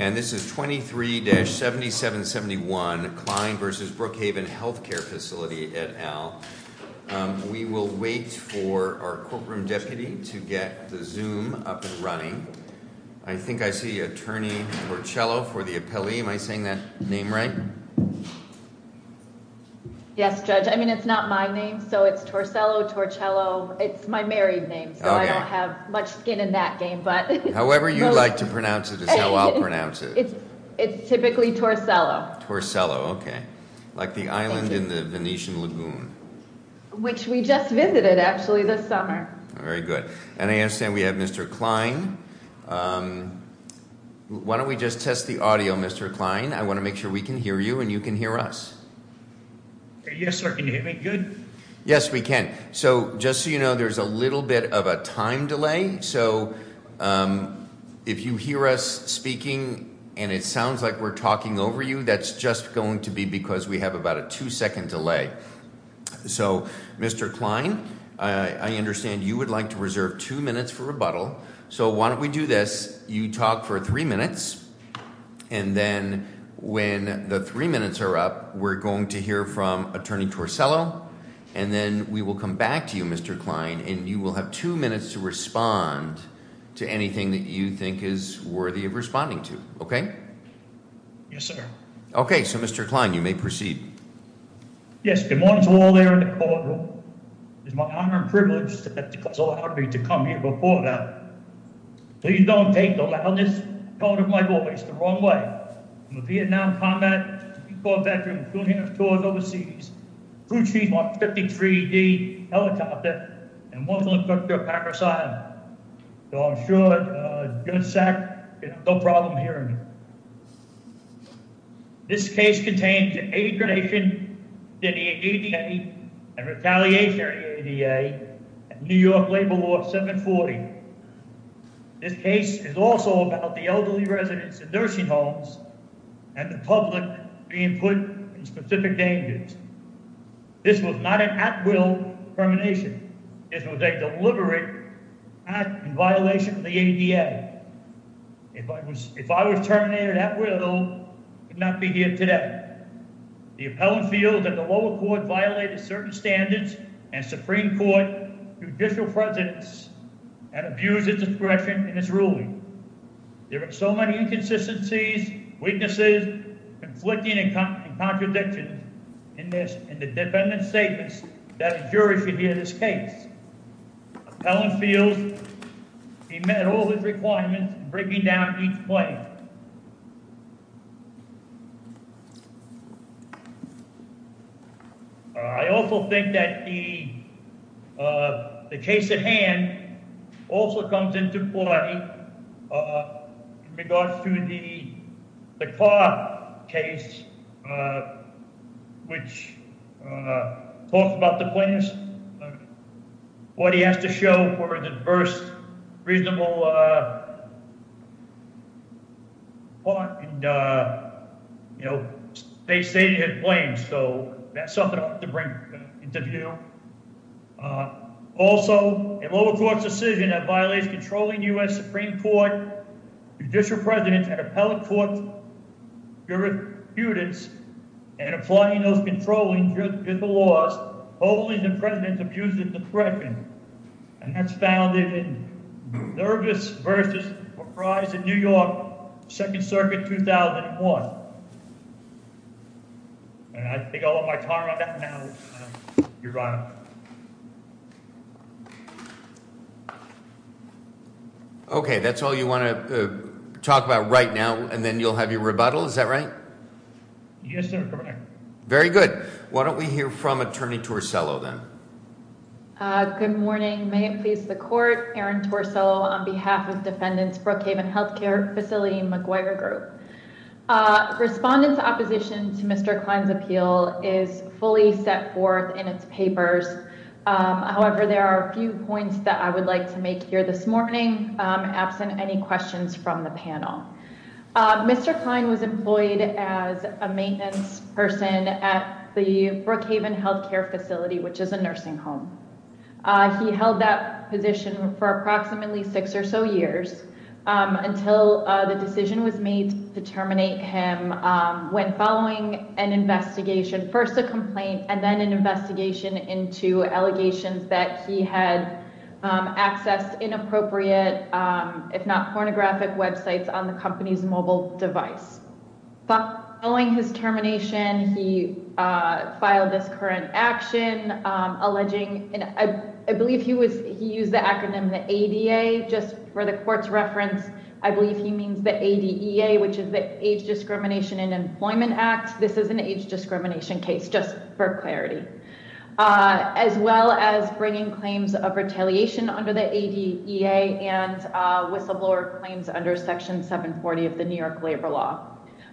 and this is 23-7771 Klein v. Brookhaven Health Care Facility, et al. We will wait for our courtroom deputy to get the Zoom up and running. I think I see Attorney Torcello for the appellee, am I saying that name right? Yes, Judge, I mean, it's not my name, so it's Torcello, Torcello, it's my married name, so I don't have much skin in that game, but... However you like to pronounce it is how I'll pronounce it. It's typically Torcello. Torcello, okay. Like the island in the Venetian Lagoon. Which we just visited, actually, this summer. Very good. And I understand we have Mr. Klein. Why don't we just test the audio, Mr. Klein, I want to make sure we can hear you and you can hear us. Yes, sir, can you hear me good? Yes, we can. So just so you know, there's a little bit of a time delay, so if you hear us speaking and it sounds like we're talking over you, that's just going to be because we have about a two-second delay. So Mr. Klein, I understand you would like to reserve two minutes for rebuttal, so why don't we do this, you talk for three minutes, and then when the three minutes are up, we're going to hear from Attorney Torcello, and then we will come back to you, Mr. Klein, and you will have two minutes to respond to anything that you think is worthy of responding to, okay? Yes, sir. Okay, so Mr. Klein, you may proceed. Yes, good morning to all there in the courtroom. It is my honor and privilege to come here before you. Please don't take the loudest part of my voice the wrong way. I'm a Vietnam combat veteran who has toured overseas, flew a Chief Mark 53D helicopter, and was an instructor at Packer Asylum, so I'm sure a gun sack can have no problem hearing me. This case contains agonization, denial of duty, and retaliation of the ADA and New York Labor Law 740. This case is also about the elderly residents in nursing homes and the public being put in specific dangers. This was not an at-will termination. This was a deliberate act in violation of the ADA. If I was terminated at will, I would not be here today. The appellant feels that the lower court violated certain standards, and Supreme Court Judicial Presidents and the Supreme Court Judiciary, and the Supreme Court Judiciary, and the Supreme Court Judiciary, and abused its discretion in its ruling. There are so many inconsistencies, weaknesses, conflicting, and contradictions in the defendant's statements that a jury should hear this case. Appellant feels he met all his requirements in breaking down each claim. I also think that the case at hand also comes into play in regards to the car case, which talks about the claims, what he has to show for the first reasonable part, and, you know, they stated his claims, so that's something I'll have to bring into the deal. Also a lower court's decision that violates controlling U.S. Supreme Court Judicial Presidents and appellate court's jurisprudence, and applying those controlling jurisprudence laws, holding the President's abusive discretion, and that's found in Nervous v. Prize in New York, Second Circuit, 2001. And I think I'll end my time on that now, Your Honor. Okay, that's all you want to talk about right now, and then you'll have your rebuttal? Is that right? Yes, Your Honor. Very good. Why don't we hear from Attorney Torsello, then? Good morning. May it please the Court, Aaron Torsello on behalf of Defendants Brookhaven Health Care Facility and McGuire Group. Respondents' opposition to Mr. Klein's appeal is fully set forth in its papers. However, there are a few points that I would like to make here this morning, absent any questions from the panel. Mr. Klein was employed as a maintenance person at the Brookhaven Health Care Facility, which is a nursing home. He held that position for approximately six or so years until the decision was made to terminate him when following an investigation, first a complaint and then an investigation into allegations that he had accessed inappropriate, if not pornographic, websites on the company's mobile device. Following his termination, he filed this current action alleging, and I believe he used the acronym, the ADA, just for the Court's reference. I believe he means the ADEA, which is the Age Discrimination and Employment Act. This is an age discrimination case, just for clarity. As well as bringing claims of retaliation under the ADEA and whistleblower claims under Section 740 of the New York Labor Law.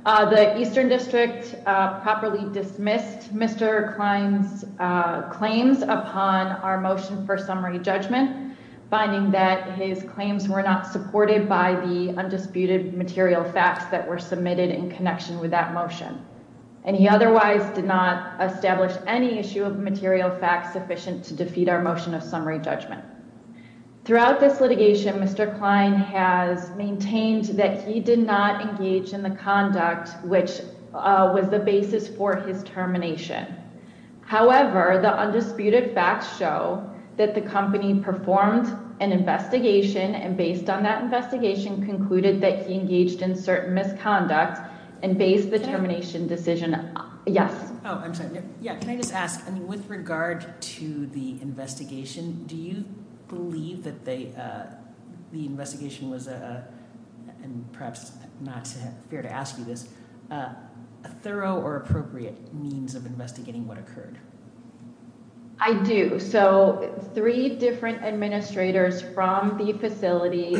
The Eastern District properly dismissed Mr. Klein's claims upon our motion for summary judgment, finding that his claims were not supported by the undisputed material facts that were submitted in connection with that motion. And he otherwise did not establish any issue of material facts sufficient to defeat our motion of summary judgment. Throughout this litigation, Mr. Klein has maintained that he did not engage in the conduct which was the basis for his termination. However, the undisputed facts show that the company performed an investigation and based on that investigation concluded that he engaged in certain misconduct and based the termination decision... Oh, I'm sorry. Yeah, can I just ask? I mean, with regard to the investigation, do you believe that the investigation was a, and perhaps not fair to ask you this, a thorough or appropriate means of investigating what occurred? I do. So, three different administrators from the facility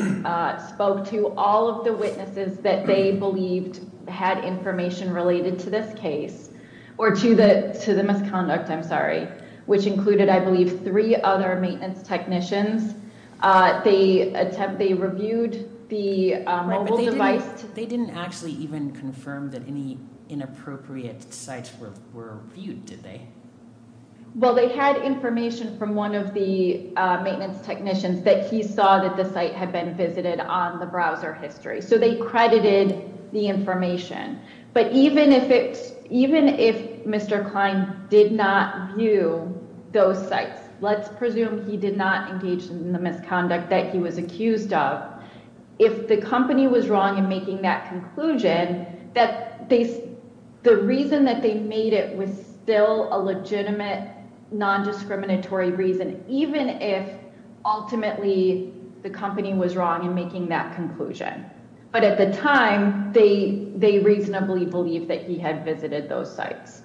spoke to all of the witnesses that they believed had information related to this case or to the misconduct, I'm sorry, which included, I believe, three other maintenance technicians. They reviewed the mobile device... Right, but they didn't actually even confirm that any inappropriate sites were viewed, did they? Well, they had information from one of the maintenance technicians that he saw that the site had been visited on the browser history. So they credited the information, but even if Mr. Klein did not view those sites, let's presume he did not engage in the misconduct that he was accused of, if the company was wrong in making that conclusion, the reason that they made it was still a legitimate non-discriminatory reason, even if ultimately the company was wrong in making that conclusion. But at the time, they reasonably believed that he had visited those sites.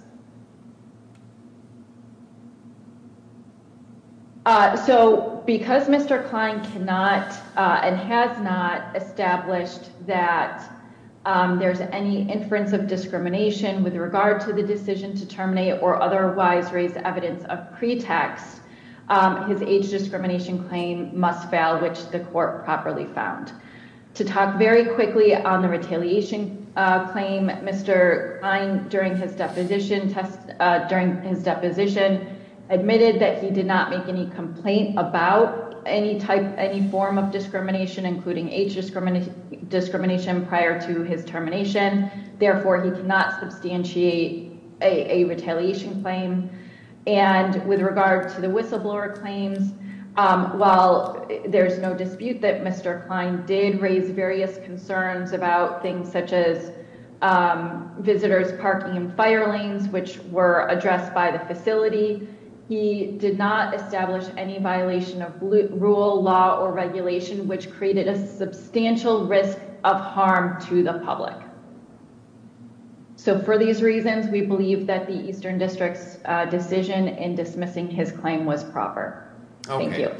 So, because Mr. Klein cannot and has not established that there's any inference of discrimination with regard to the decision to terminate or otherwise raise evidence of pretext, his age discrimination claim must fail, which the court properly found. To talk very quickly on the retaliation claim, Mr. Klein, during his deposition, admitted that he did not make any complaint about any type, any form of discrimination, including age discrimination prior to his termination. Therefore, he cannot substantiate a retaliation claim. And with regard to the whistleblower claims, while there's no dispute that Mr. Klein did raise various concerns about things such as visitors parking in fire lanes, which were addressed by the facility, he did not establish any violation of rule, law, or regulation, which created a substantial risk of harm to the public. So, for these reasons, we believe that the Eastern District's decision in dismissing his claim was proper. Thank you.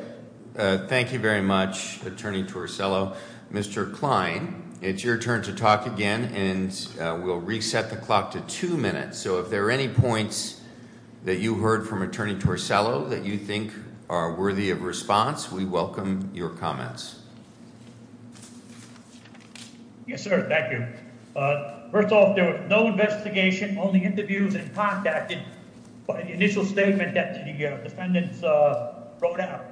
Okay. Thank you very much, Attorney Torricello. Mr. Klein, it's your turn to talk again, and we'll reset the clock to two minutes. So, if there are any points that you heard from Attorney Torricello that you think are worthy of response, we welcome your comments. Yes, sir. Thank you. First off, there was no investigation, only interviews and contacting. By the initial statement that the defendants wrote out,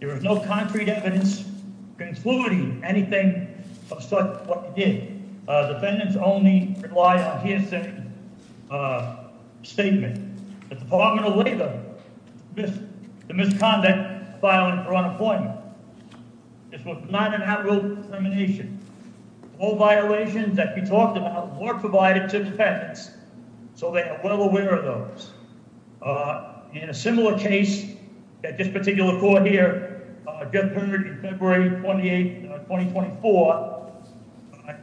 there was no concrete evidence concluding anything of such what he did. The defendants only relied on his statement. The Department of Labor, the misconduct filing for unemployment. This was not an act of discrimination. All violations that we talked about were provided to the defendants, so they are well aware of those. In a similar case, at this particular court here, Jeff Perdue, February 28, 2024, in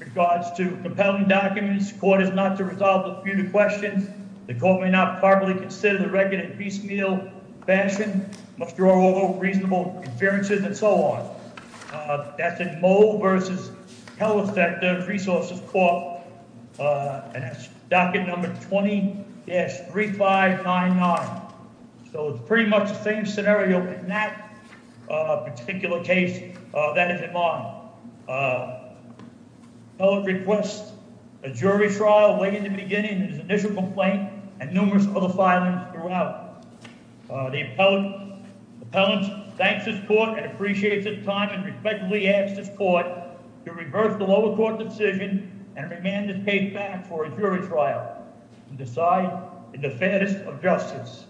regards to compelling documents, the court is not to resolve the disputed questions. The court may not properly consider the record in piecemeal fashion, must draw over reasonable appearances, and so on. That's in Moe v. Hellerfect, the resources court, and that's docket number 20-3599. So, it's pretty much the same scenario in that particular case. That is in Moe. The appellant requests a jury trial way in the beginning of his initial complaint and numerous other filings throughout. The appellant thanks his court and appreciates his time and respectfully asks his court to reverse the lower court's decision and remand the case back for a jury trial and decide in the fairness of justice.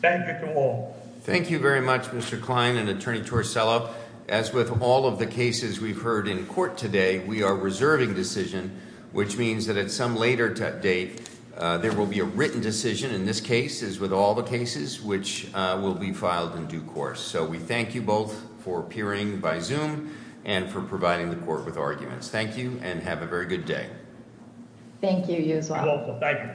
Thank you to all. Thank you very much, Mr. Klein and Attorney Torricella. Well, as with all of the cases we've heard in court today, we are reserving decision, which means that at some later date, there will be a written decision in this case, as with all the cases, which will be filed in due course. So, we thank you both for appearing by Zoom and for providing the court with arguments. Thank you and have a very good day. Thank you, you as well. You're welcome. Thank you.